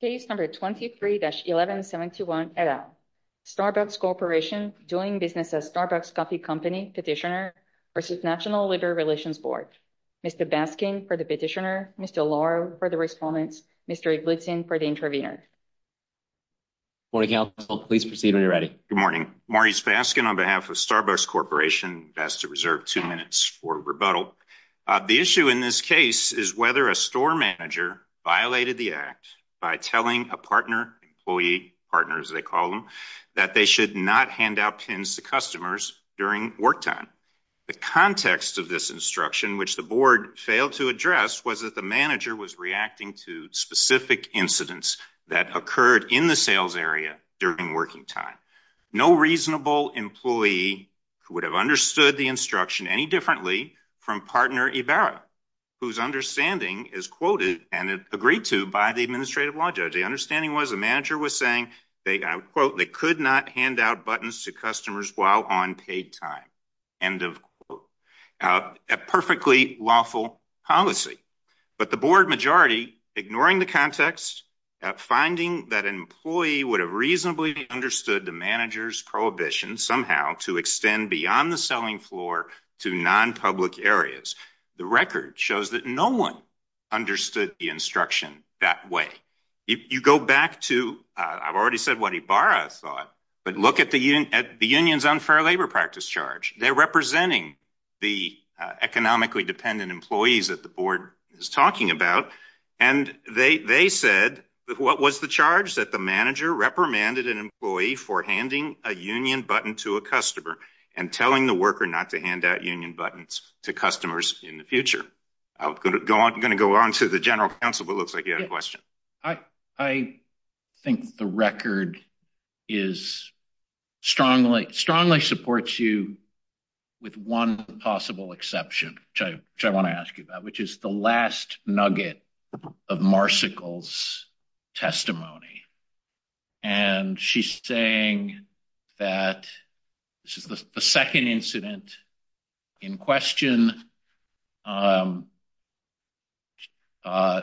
Case number 23-11721 et al. Starbucks Corporation doing business as Starbucks Coffee Company Petitioner v. National Labor Relations Board. Mr. Baskin for the petitioner, Mr. Loro for the respondent, Mr. Blitzen for the intervener. Morning counsel, please proceed when you're ready. Good morning. Maurice Baskin on behalf of Starbucks Corporation, best to reserve two minutes for rebuttal. The issue in this case is whether a store manager violated the act by telling a partner, employee, partner as they call them, that they should not hand out pins to customers during work time. The context of this instruction, which the board failed to address, was that the manager was reacting to specific incidents that occurred in the sales area during working time. No reasonable employee who have understood the instruction any differently from partner Ibarra, whose understanding is quoted and agreed to by the administrative law judge. The understanding was the manager was saying they, I quote, they could not hand out buttons to customers while on paid time. End of quote. A perfectly lawful policy. But the board majority, ignoring the context, finding that an employee would have reasonably understood the manager's prohibition somehow to extend beyond the selling floor to non-public areas. The record shows that no one understood the instruction that way. If you go back to, I've already said what Ibarra thought, but look at the at the union's unfair labor practice charge. They're representing the economically dependent employees that the board is What was the charge? That the manager reprimanded an employee for handing a union button to a customer and telling the worker not to hand out union buttons to customers in the future. I'm going to go on to the general counsel, but looks like you had a question. I think the record is strongly supports you with one possible exception, which I want to ask you about, which is the last nugget of Marsicles testimony. And she's saying that this is the second incident in question. Um, uh,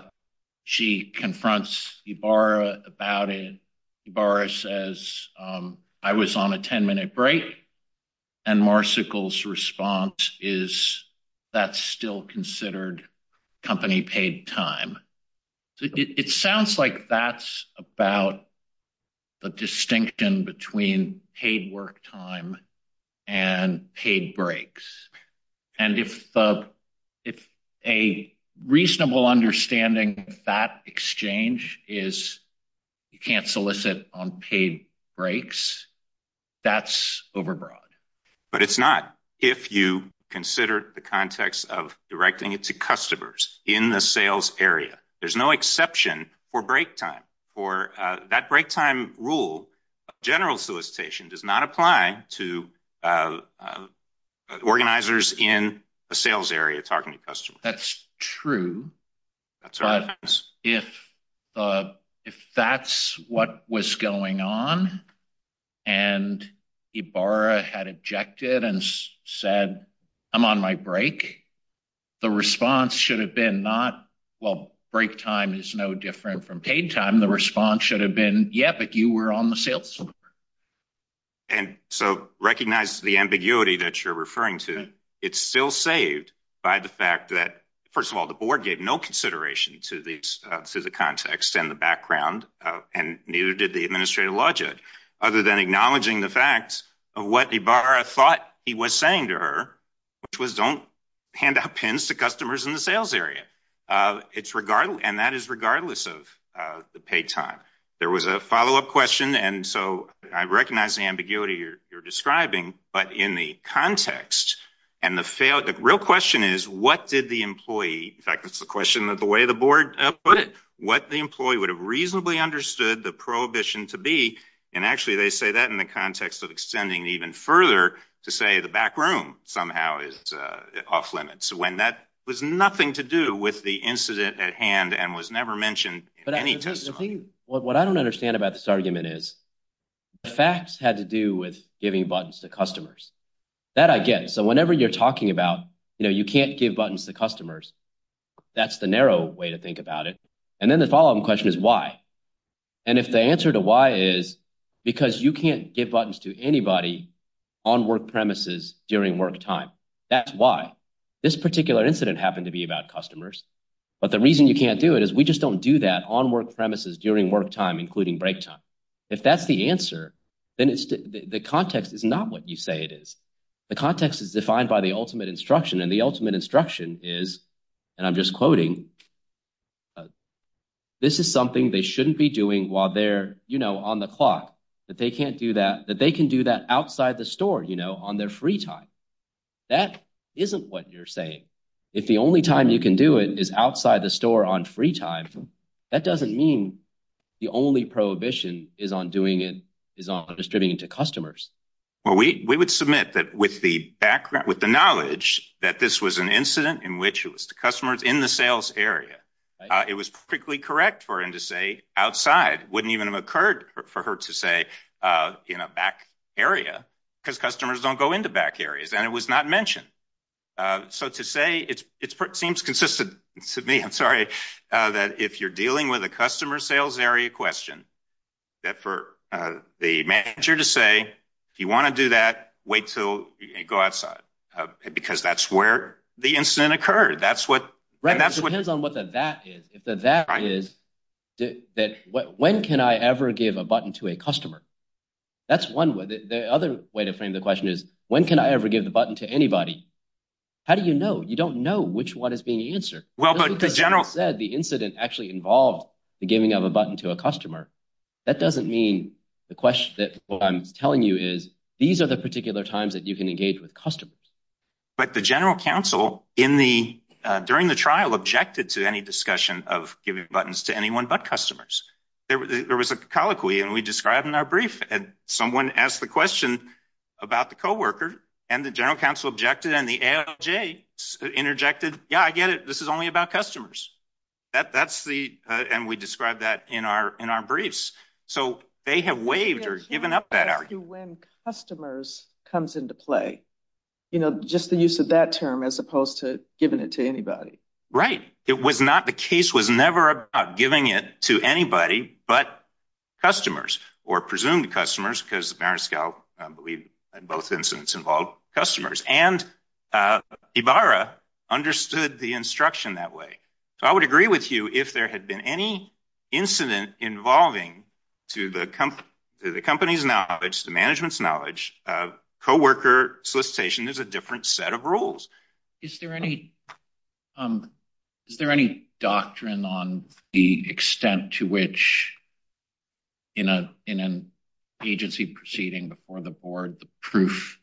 she confronts Ibarra about it. Ibarra says, um, I was on a 10 minute break. And Marsicles response is that's still considered company paid time. It sounds like that's about the distinction between paid work time and paid breaks. And if, uh, if a reasonable understanding that exchange is you can't solicit on paid breaks, that's overbroad. But it's not. If you consider the context of directing it to customers in the sales area, there's no exception for break time for that break time rule. General solicitation does not apply to, uh, organizers in a sales area talking to customers. That's true. That's right. If, uh, if that's what was going on and Ibarra had objected and said, I'm on my break, the response should have been not. Well, break time is no different from paid time. The response should have been. Yeah, but you were on the sales. And so recognize the ambiguity that you're referring to. It's still saved by the fact that, first of all, the board gave no consideration to the to the context and the background, and neither did the administrative logic other than acknowledging the fact of what Ibarra thought he was saying to her, which was don't hand out pins to customers in the sales area. Uh, it's regardless. And that is regardless of the paid time. There was a follow up question. And so I recognize the ambiguity you're describing. But in the context and the failed, the real question is, what did the employee? In fact, that's the question that the way the board put it, what the employee would have reasonably understood the prohibition to be. And actually, they say that in the context of extending even further to say the back room somehow is off limits when that was nothing to do with the incident at hand and was never mentioned. But I think what I don't understand about this argument is the facts had to do with giving buttons to customers that I get. So whenever you're talking about, you know, you can't give buttons to customers. That's the narrow way to think about it. And then the following question is why? And if the answer to why is because you can't give buttons to anybody on work premises during work time. That's why this particular incident happened to be about customers. But the reason you can't do it is we just don't do that on work premises during work time, including break time. If that's the answer, then the context is not what you say it is. The context is defined by the ultimate instruction. And the ultimate instruction is, and I'm just quoting, this is something they shouldn't be doing while they're, you know, on the clock, that they can't do that, that they can do that outside the store, you know, on their free time. That isn't what you're saying. If the only time you can do it is outside the store on free time, that doesn't mean the only prohibition is on doing it, is on distributing it to customers. Well, we would submit that with the background, with the knowledge that this was an incident in which it was to customers in the sales area, it was perfectly correct for him to say outside. Wouldn't even have occurred for her to say in a back area because customers don't go into back areas and it was not mentioned. So to say it seems consistent to me, I'm sorry, that if you're dealing with a customer sales area question, that for the manager to say, if you want to do that, wait till you go outside, because that's where the incident occurred. That's what, right. That's what depends on what the that is. If the that is that, when can I ever give a button to a customer? That's one way. The other way to frame the question is, when can I ever give the button to anybody? How do you know? You don't know which one is being answered. Well, but the general said the incident actually involved the giving of a button to a customer. That doesn't mean the question that I'm telling you is, these are the particular times that you can engage with customers. But the general counsel in the during the trial objected to any discussion of giving buttons to anyone but customers. There was a colloquy and we described in our brief and someone asked the question about the coworker and the general counsel objected and the ALJ interjected. Yeah, I see. And we described that in our in our briefs. So they have waived or given up that argue when customers comes into play, you know, just the use of that term as opposed to giving it to anybody, right? It was not. The case was never about giving it to anybody but customers or presumed customers because Mariscal believe in both incidents involved customers. And uh, Ibarra understood the instruction that way. So I would agree with you if there had been any incident involving to the company, the company's knowledge, the management's knowledge of coworker solicitation, there's a different set of rules. Is there any, um, is there any doctrine on the extent to which in a, in an agency proceeding before the board, the proof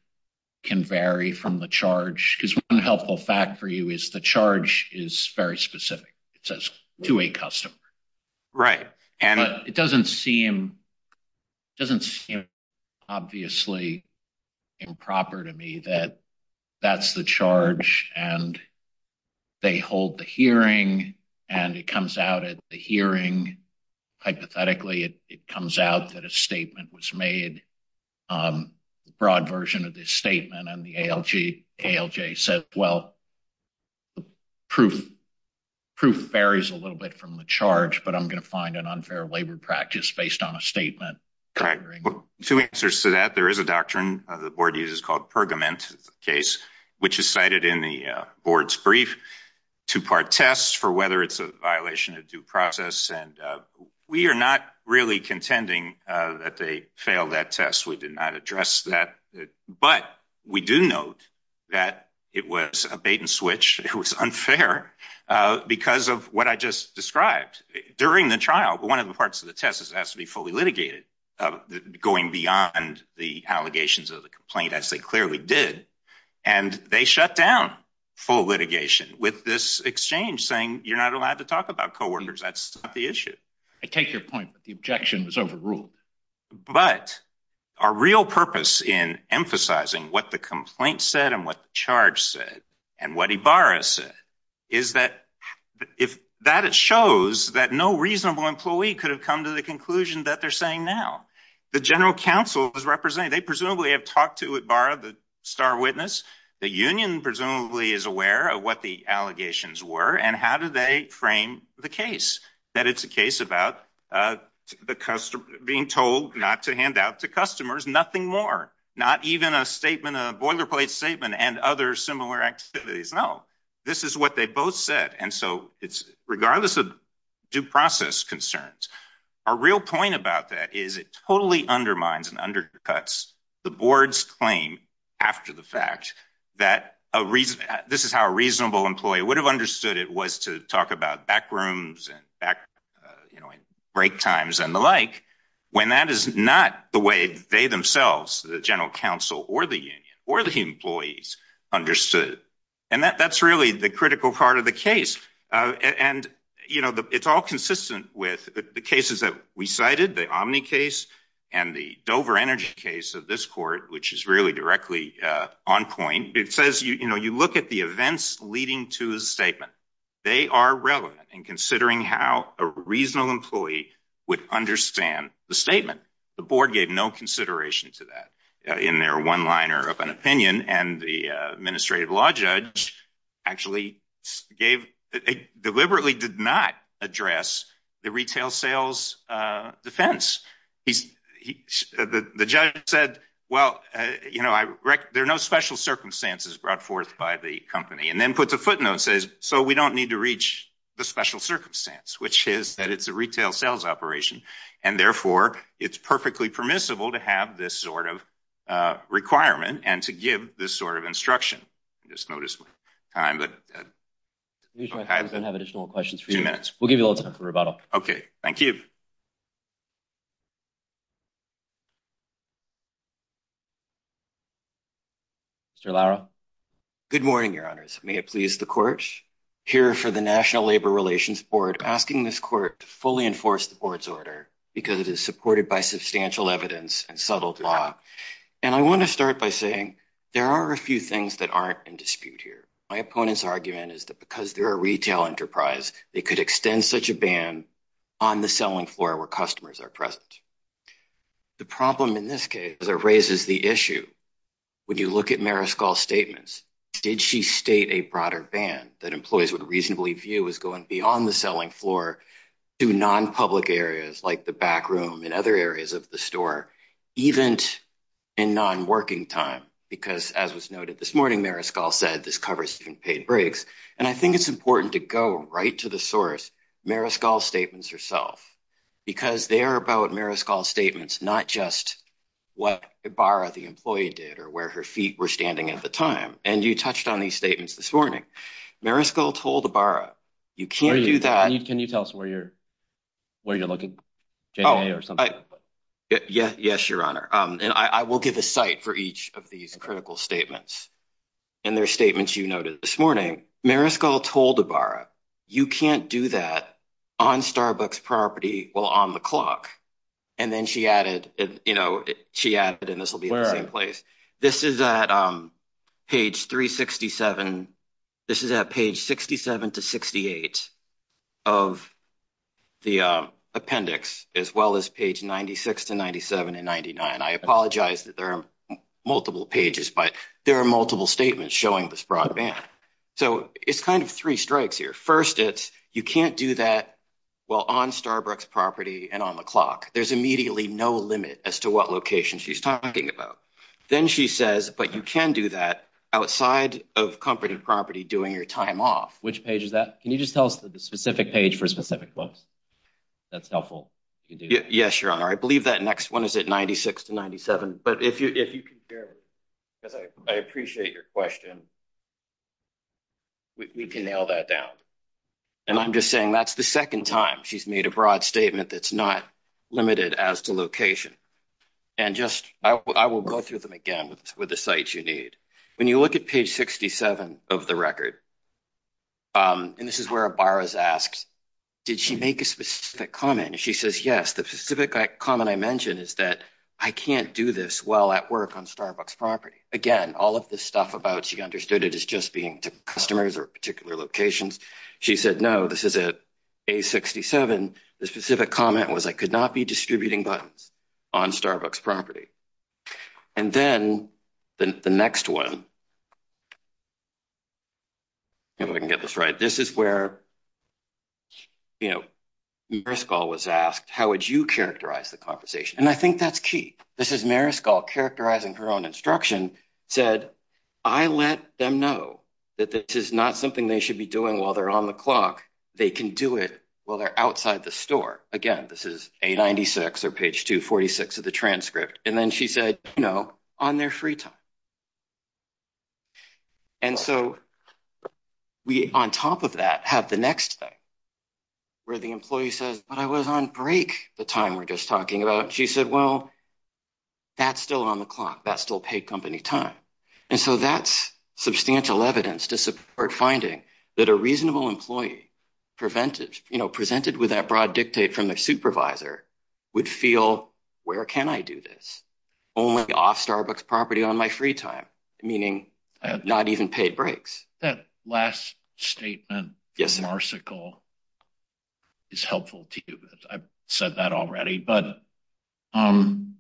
can vary from the fact for you is the charge is very specific. It says to a customer, right? And it doesn't seem, it doesn't seem obviously improper to me that that's the charge and they hold the hearing and it comes out at the hearing. Hypothetically, it comes out that a statement was made. Um, broad version of statement on the L. G. L. J. Says, well, proof proof varies a little bit from the charge, but I'm going to find an unfair labor practice based on a statement. Correct. Two answers to that. There is a doctrine of the board uses called Pergament case, which is cited in the board's brief two part tests for whether it's a violation of due process. And we are not really contending that they failed that test. We did not address that. But we do note that it was a bait and switch. It was unfair because of what I just described during the trial. But one of the parts of the test has to be fully litigated going beyond the allegations of the complaint as they clearly did. And they shut down full litigation with this exchange saying you're not allowed to talk about coordinators. That's the issue. I take real purpose in emphasizing what the complaint said and what charge said and what he Boris is that if that it shows that no reasonable employee could have come to the conclusion that they're saying now the general counsel is representing. They presumably have talked to it. Borrowed the star witness. The union presumably is aware of what the allegations were. And how do they frame the case that it's a case about, uh, the customer being told not to hand out to customers. Nothing more. Not even a statement of boilerplate statement and other similar activities. No, this is what they both said. And so it's regardless of due process concerns. Our real point about that is it totally undermines and undercuts the board's claim after the fact that a reason this is how a reasonable employee would have understood it was to talk about back rooms and back break times and the like when that is not the way they themselves, the general counsel or the union or the employees understood. And that that's really the critical part of the case. Andi, you know, it's all consistent with the cases that we cited the Omni case and the Dover Energy case of this court, which is really directly on point. It says, you know, you look at the events leading to his statement. They are relevant in considering how a reasonable employee would understand the statement. The board gave no consideration to that in their one liner of an opinion. And the administrative law judge actually gave deliberately did not address the retail sales defense. He's the judge said, Well, you know, I rec there are no special circumstances brought forth by the company and then puts a footnote says so we don't need to reach the special circumstance, which is that it's a retail sales operation, and therefore it's perfectly permissible to have this sort of requirement and to give this sort of instruction. Just notice my time, but I don't have additional questions for you minutes. We'll give you a little time for rebuttal. Okay, thank you. Mr Lara. Good morning, Your Honors. May it please the court here for the National Labor Relations Board, asking this court fully enforce the board's order because it is supported by substantial evidence and settled law. And I want to start by saying there are a few things that aren't in dispute here. My opponent's argument is that because there are retail enterprise, they could extend such a ban on the selling floor where customers are Did she state a broader ban that employees would reasonably view is going beyond the selling floor to non public areas like the back room and other areas of the store, even in non working time? Because, as was noted this morning, Mariscal said this covers even paid breaks. And I think it's important to go right to the source. Mariscal statements herself because they're about Mariscal statements, not just what a bar of the employee did or where her feet were standing at the time. And you touched on these statements this morning. Mariscal told the bar. You can't do that. Can you tell us where you're where you're looking? Oh, yes, Your Honor. And I will give a site for each of these critical statements and their statements. You noted this morning. Mariscal told the bar. You can't do that on Starbucks property while on the clock. And then she added, you know, this is at page 3 67. This is at page 67 to 68 of the appendix, as well as page 96 to 97 and 99. I apologize that there are multiple pages, but there are multiple statements showing this broadband. So it's kind of three strikes here. First, it's you can't do that. Well, on Starbucks property and on the clock, there's immediately no limit as to what location she's talking about. Then she says, But you can do that outside of company property doing your time off. Which page is that? Can you just tell us the specific page for specific books? That's helpful. Yes, Your Honor. I believe that next one is at 96 to 97. But if you if you compare, I appreciate your question. We can nail that down. And I'm just saying that's the second time she's made a broad statement that's not limited as to location. And just I will go through them again with the site you need. When you look at page 67 of the record, and this is where a bar is asked, Did she make a specific comment? She says, Yes, the specific comment I mentioned is that I can't do this well at work on Starbucks property again. All of this stuff about she understood it is just being to customers or particular locations. She said, No, this is it. A 67. The specific comment was I could not be distributing buttons on Starbucks property. And then the next one, we can get this right. This is where, you know, first call was asked. How would you characterize the conversation? And I think that's key. This is Mariscal characterizing her own instruction said I let them know that this is not something they should be doing while they're on the clock. They can do it while they're outside the store again. This is a 96 or page 246 of the transcript. And then she said, No, on their free time. And so we on top of that have the next thing where the employee says, But I was on break the time we're just talking about. She said, Well, that's still on the clock. That's still paid company time. And so that's substantial evidence to support finding that a reasonable employee prevented, you know, presented with that broad dictate from their supervisor would feel. Where can I do this? Only off Starbucks property on my free time, meaning not even paid breaks. That last statement. Yes, Marcicle is helpful to you. I've said that already. But, um,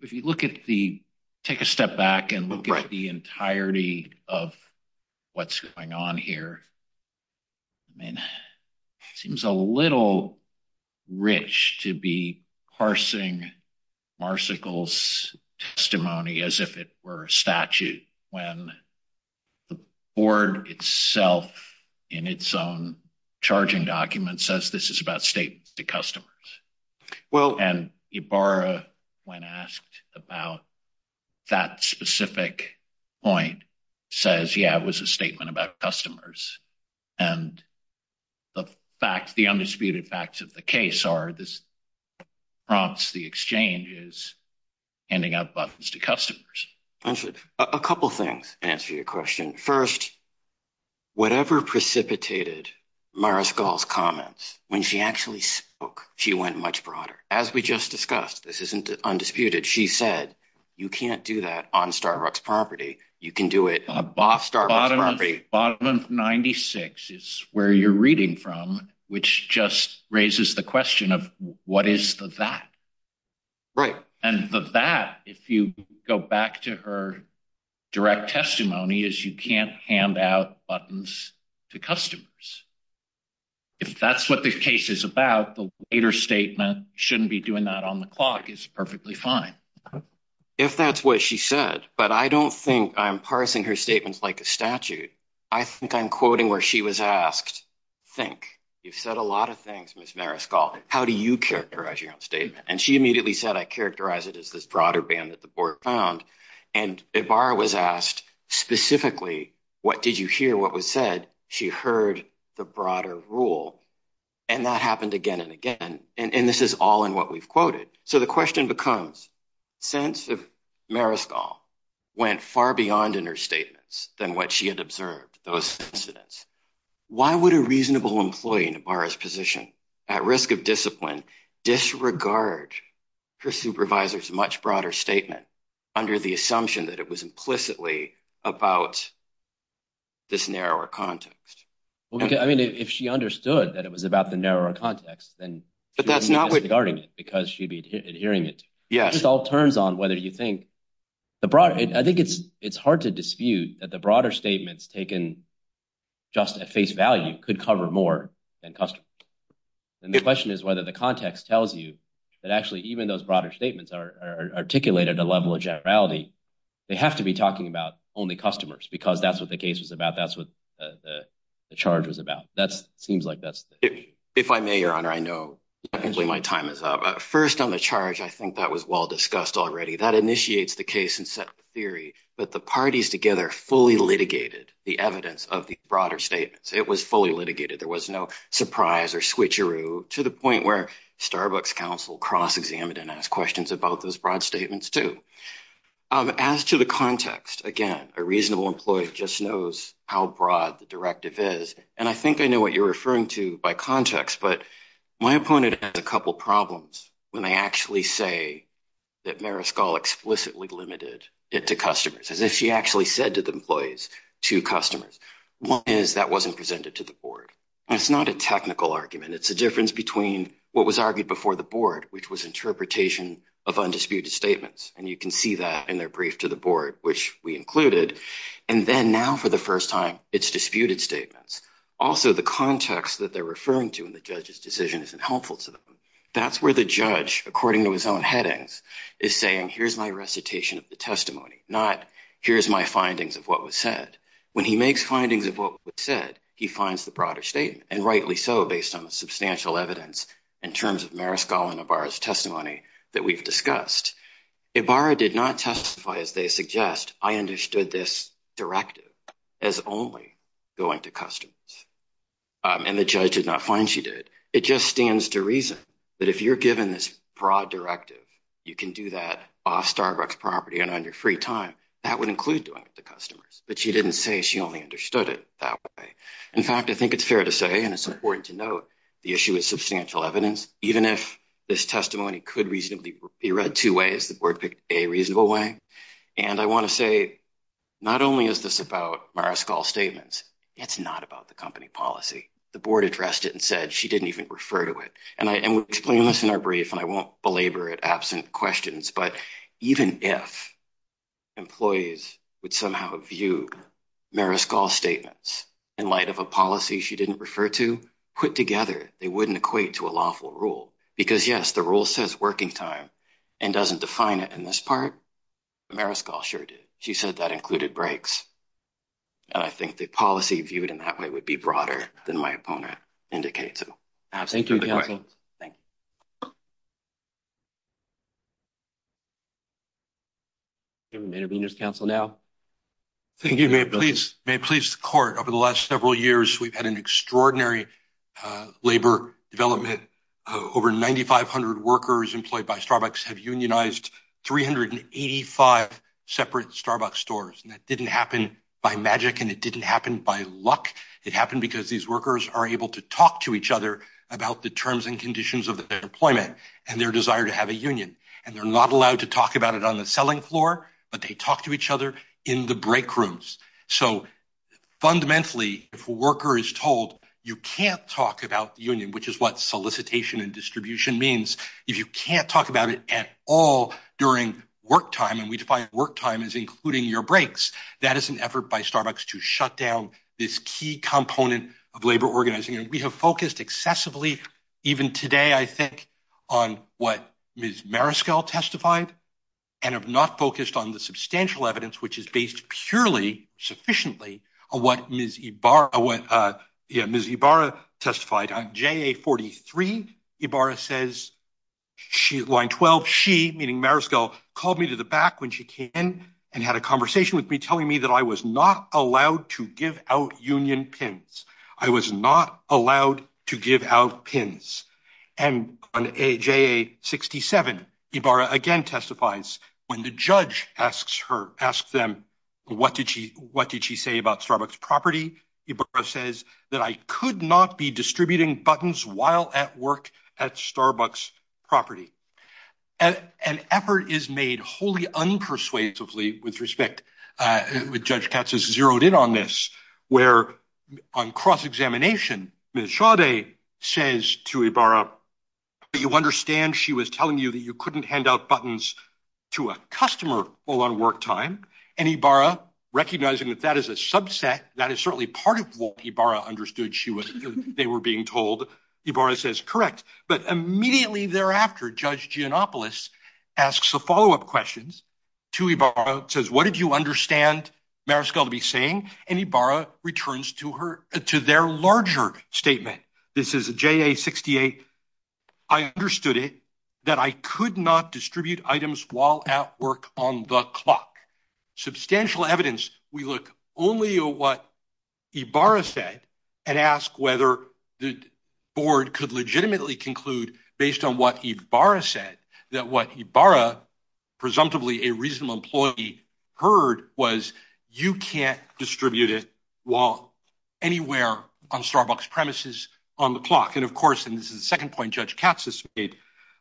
if you look at the take a step back and look at the entirety of what's going on here, I mean, it seems a little rich to be parsing Marcicles testimony as if it were a statute when the board itself in its own charging document says this is about statements to customers. Well, and you borrow when asked about that specific point says, Yeah, it was a statement about customers. And the fact the undisputed facts of the case are this prompts the exchanges ending up buttons to customers. A couple things answer your question first. Whatever precipitated Mariscal's comments when she actually spoke, she went much broader. As we just discussed, this isn't undisputed. She said you can't do that on Starbucks property. You can do it. A boss. Starbucks property. Bottom 96 is where you're reading from, which just raises the question of what is that? Right. And the that if you go back to her direct testimony is you can't hand out buttons to customers. If that's what the case is about, the later statement shouldn't be doing that on the clock is perfectly fine if that's what she said. But I don't think I'm parsing her statements like a statute. I think I'm quoting where she was asked. Think you've said a lot of things, Miss Mariscal. How do you characterize your own statement? And she immediately said, I characterize it is this broader ban that the board found. And a bar was asked specifically, what did you hear? What was said? She heard the broader rule. And that happened again and again. And this is all in what we've quoted. So the question becomes sense of Mariscal went far beyond in her statements than what she had observed those incidents. Why would a reasonable employee in a bar's position at risk of discipline disregard her supervisor's much broader statement under the assumption that it was implicitly about. This narrower context, I mean, if she understood that it was about the narrower context, then that's not regarding it because she'd be adhering it. Yes, it all turns on whether you think the broad. I think it's it's hard to dispute that the broader statements taken just at face value could cover more than custom. And the question is whether the context tells you that actually even those broader statements are articulated a level of generality. They have to be talking about only customers because that's what the case was about. That's what the charge was about. That seems like that's it. If I may, Your Honor, I know my time is up first on the charge. I think that was well discussed already. That initiates the case and set theory. But the parties together fully litigated the evidence of the broader statements. It was fully litigated. There was no surprise or switcheroo to the point where Starbucks Council cross examined and ask questions about those broad statements to, um, as to the context again, a reasonable employee just knows how broad the directive is. And I think I know what you're referring to by context. But my opponent has a couple problems when they actually say that Mariscal explicitly limited it to customers, as if she actually said to employees to customers. One is that wasn't presented to the board. It's not a technical argument. It's a difference between what was argued before the board, which was interpretation of undisputed statements. And you can see that in their brief to the board, which we included. And then now, for the first time, it's disputed statements. Also, the context that they're referring to in the judge's decision isn't helpful to them. That's where the judge, according to his own headings, is saying, Here's my recitation of the what was said. When he makes findings of what was said, he finds the broader statement, and rightly so, based on the substantial evidence in terms of Mariscal and Ibarra's testimony that we've discussed. Ibarra did not testify, as they suggest. I understood this directive as only going to customers, and the judge did not find she did. It just stands to reason that if you're given this broad directive, you can do that off Starbucks property and on your free time. That would include doing it to customers. But she didn't say she only understood it that way. In fact, I think it's fair to say, and it's important to note, the issue is substantial evidence. Even if this testimony could reasonably be read two ways, the board picked a reasonable way. And I wanna say, not only is this about Mariscal's statements, it's not about the company policy. The board addressed it and said she didn't even refer to it. And we'll explain this in our brief, and I won't belabor it absent questions. But even if employees would somehow view Mariscal's statements in light of a policy she didn't refer to, put together, they wouldn't equate to a lawful rule. Because, yes, the rule says working time and doesn't define it in this part. Mariscal sure did. She said that included breaks. And I think the policy viewed in that way would be broader than my opponent indicates. Thank you, counsel. Thank you, Mayor Beaner's counsel now. Thank you. May it please the court. Over the last several years, we've had an extraordinary labor development. Over 9500 workers employed by Starbucks have unionized 385 separate Starbucks stores. And that didn't happen by magic, and it didn't happen by luck. It happened because these workers are able to talk to each other about the terms and conditions of their employment and their desire to have a union. And they're not allowed to talk about it on the selling floor, but they talk to each other in the break rooms. So fundamentally, if a worker is told you can't talk about union, which is what solicitation and distribution means. If you can't talk about it at all during work time, and we define work time is including your breaks. That is an effort by Starbucks to shut down this key component of labor organizing. And we have focused excessively, even today, I think, on what Ms. Mariskell testified and have not focused on the substantial evidence, which is based purely sufficiently on what Ms. Ibarra testified on. JA43, Ibarra says, line 12, she, meaning Mariskell, called me to the back when she came in and had a conversation with me telling me that I was not allowed to give out union pins. I was not allowed to give out pins. And on JA67, Ibarra again testifies when the judge asks her, asks them, what did she what did she say about Starbucks property? Ibarra says that I could not be distributing buttons while at work at Starbucks property. An effort is made wholly unpersuasively with respect. Judge Katz has zeroed in on this, where on cross-examination, Ms. Sade says to Ibarra, you understand she was telling you that you couldn't hand out buttons to a customer while on work time? And Ibarra, recognizing that that is a subset, that is certainly part of what Ibarra understood they were being told, Ibarra says, correct. But immediately thereafter, Judge Giannopoulos asks the follow-up questions to Ibarra, says, what did you understand Mariskell to be saying? And Ibarra returns to her, to their larger statement. This is a JA68. I understood it, that I could not distribute items while at work on the clock. Substantial evidence. We look only at what Ibarra said and ask whether the board could legitimately conclude based on what Ibarra said, that what Ibarra, presumptively a reasonable employee, heard was you can't distribute it while anywhere on Starbucks premises on the clock. And of course, and this is the second point Judge Katz has made,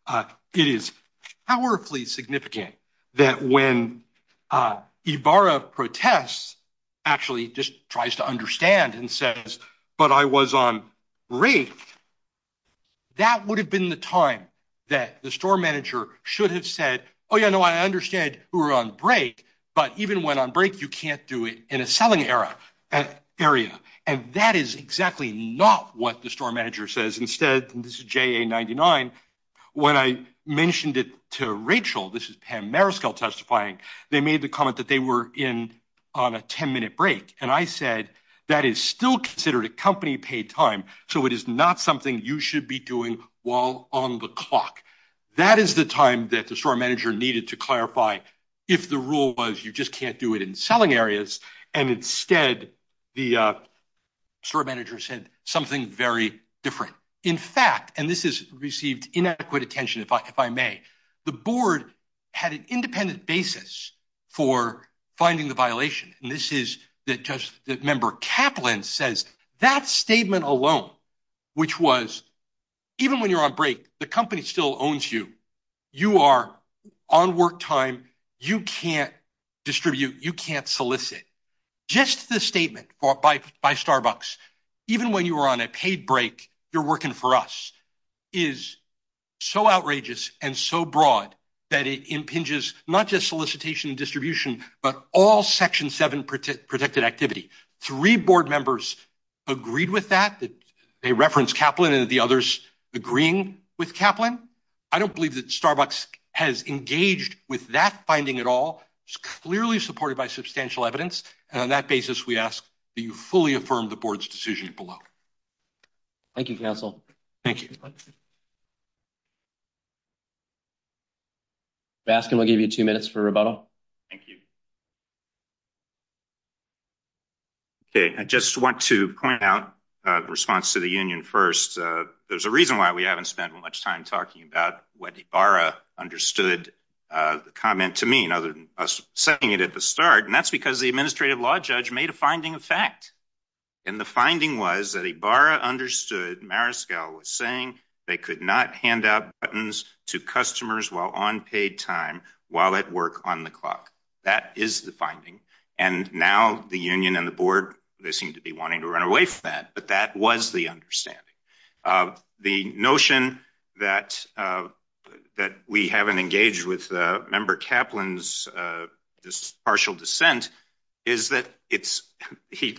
it is powerfully significant that when Ibarra protests, actually just tries to the store manager should have said, oh, yeah, no, I understand we're on break, but even when on break, you can't do it in a selling area. And that is exactly not what the store manager says. Instead, this is JA99, when I mentioned it to Rachel, this is Pam Mariskell testifying, they made the comment that they were in on a 10 minute break. And I said, that is still considered a company paid time. So it is not something you should be doing while on the clock. That is the time that the store manager needed to clarify if the rule was you just can't do it in selling areas. And instead, the store manager said something very different. In fact, and this is received inadequate attention, if I may, the board had an independent basis for finding the violation. And that statement alone, which was, even when you're on break, the company still owns you, you are on work time, you can't distribute, you can't solicit. Just the statement by Starbucks, even when you are on a paid break, you're working for us, is so outrageous and so broad, that it impinges not just solicitation and distribution, but all section seven protected activity. Three board members agreed with that. They referenced Kaplan and the others agreeing with Kaplan. I don't believe that Starbucks has engaged with that finding at all. It's clearly supported by substantial evidence. And on that basis, we ask that you fully affirm the board's decision below. Thank you, counsel. Thank you. Let's ask him. I'll give you two minutes for rebuttal. Thank you. Okay, I just want to point out response to the union. First, there's a reason why we haven't spent much time talking about what a barra understood the comment to mean other than us setting it at the start. And that's because the administrative law judge made a finding of fact. And the finding was that a barra understood Mariscal was saying they could not hand out buttons to customers while on paid time while at work on the clock. That is the finding. And now the union and the board, they seem to be wanting to run away from that. But that was the understanding of the notion that, uh, that we haven't engaged with member Kaplan's, uh, this partial dissent is that it's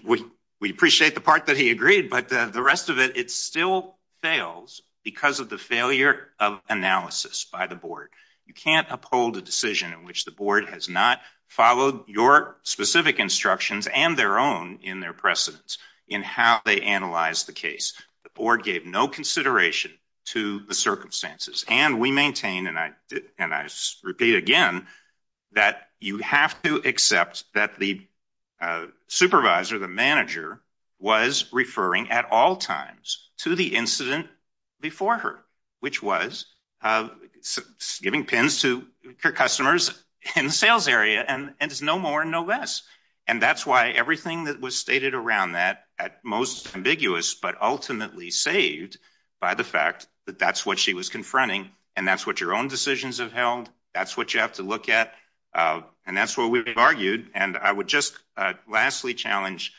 we we appreciate the part that he agreed, but the rest of it, it still fails because of the failure of analysis by the board. You can't uphold a decision in which the board has not followed your specific instructions and their own in their precedence in how they analyze the case. The board gave no consideration to the circumstances, and we maintain, and I and I repeat again that you have to accept that the, uh, supervisor, the manager was referring at all times to the incident before her, which was, uh, giving pins to your customers in the sales area. And it's no more, no less. And that's why everything that was stated around that at most ambiguous, but ultimately saved by the fact that that's what she was confronting. And that's what your own decisions have held. That's what you have to look at. Uh, and that's what we've argued. And I would just lastly challenge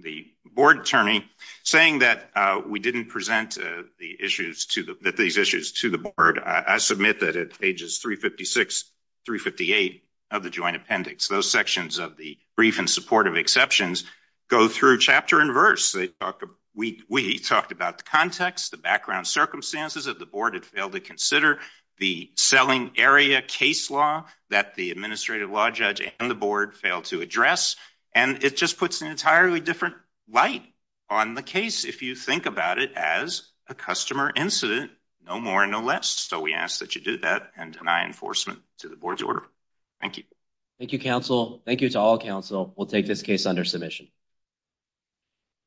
the board attorney saying that we didn't present the issues to that these issues to the board. I submit that at ages 3 56 3 58 of the joint appendix, those sections of the brief and supportive exceptions go through chapter and verse. They talked. We talked about the context, the background circumstances of the selling area case law that the administrative law judge and the board failed to address. And it just puts an entirely different light on the case. If you think about it as a customer incident, no more, no less. So we ask that you do that and deny enforcement to the board's order. Thank you. Thank you, counsel. Thank you to all counsel will take this case under submission.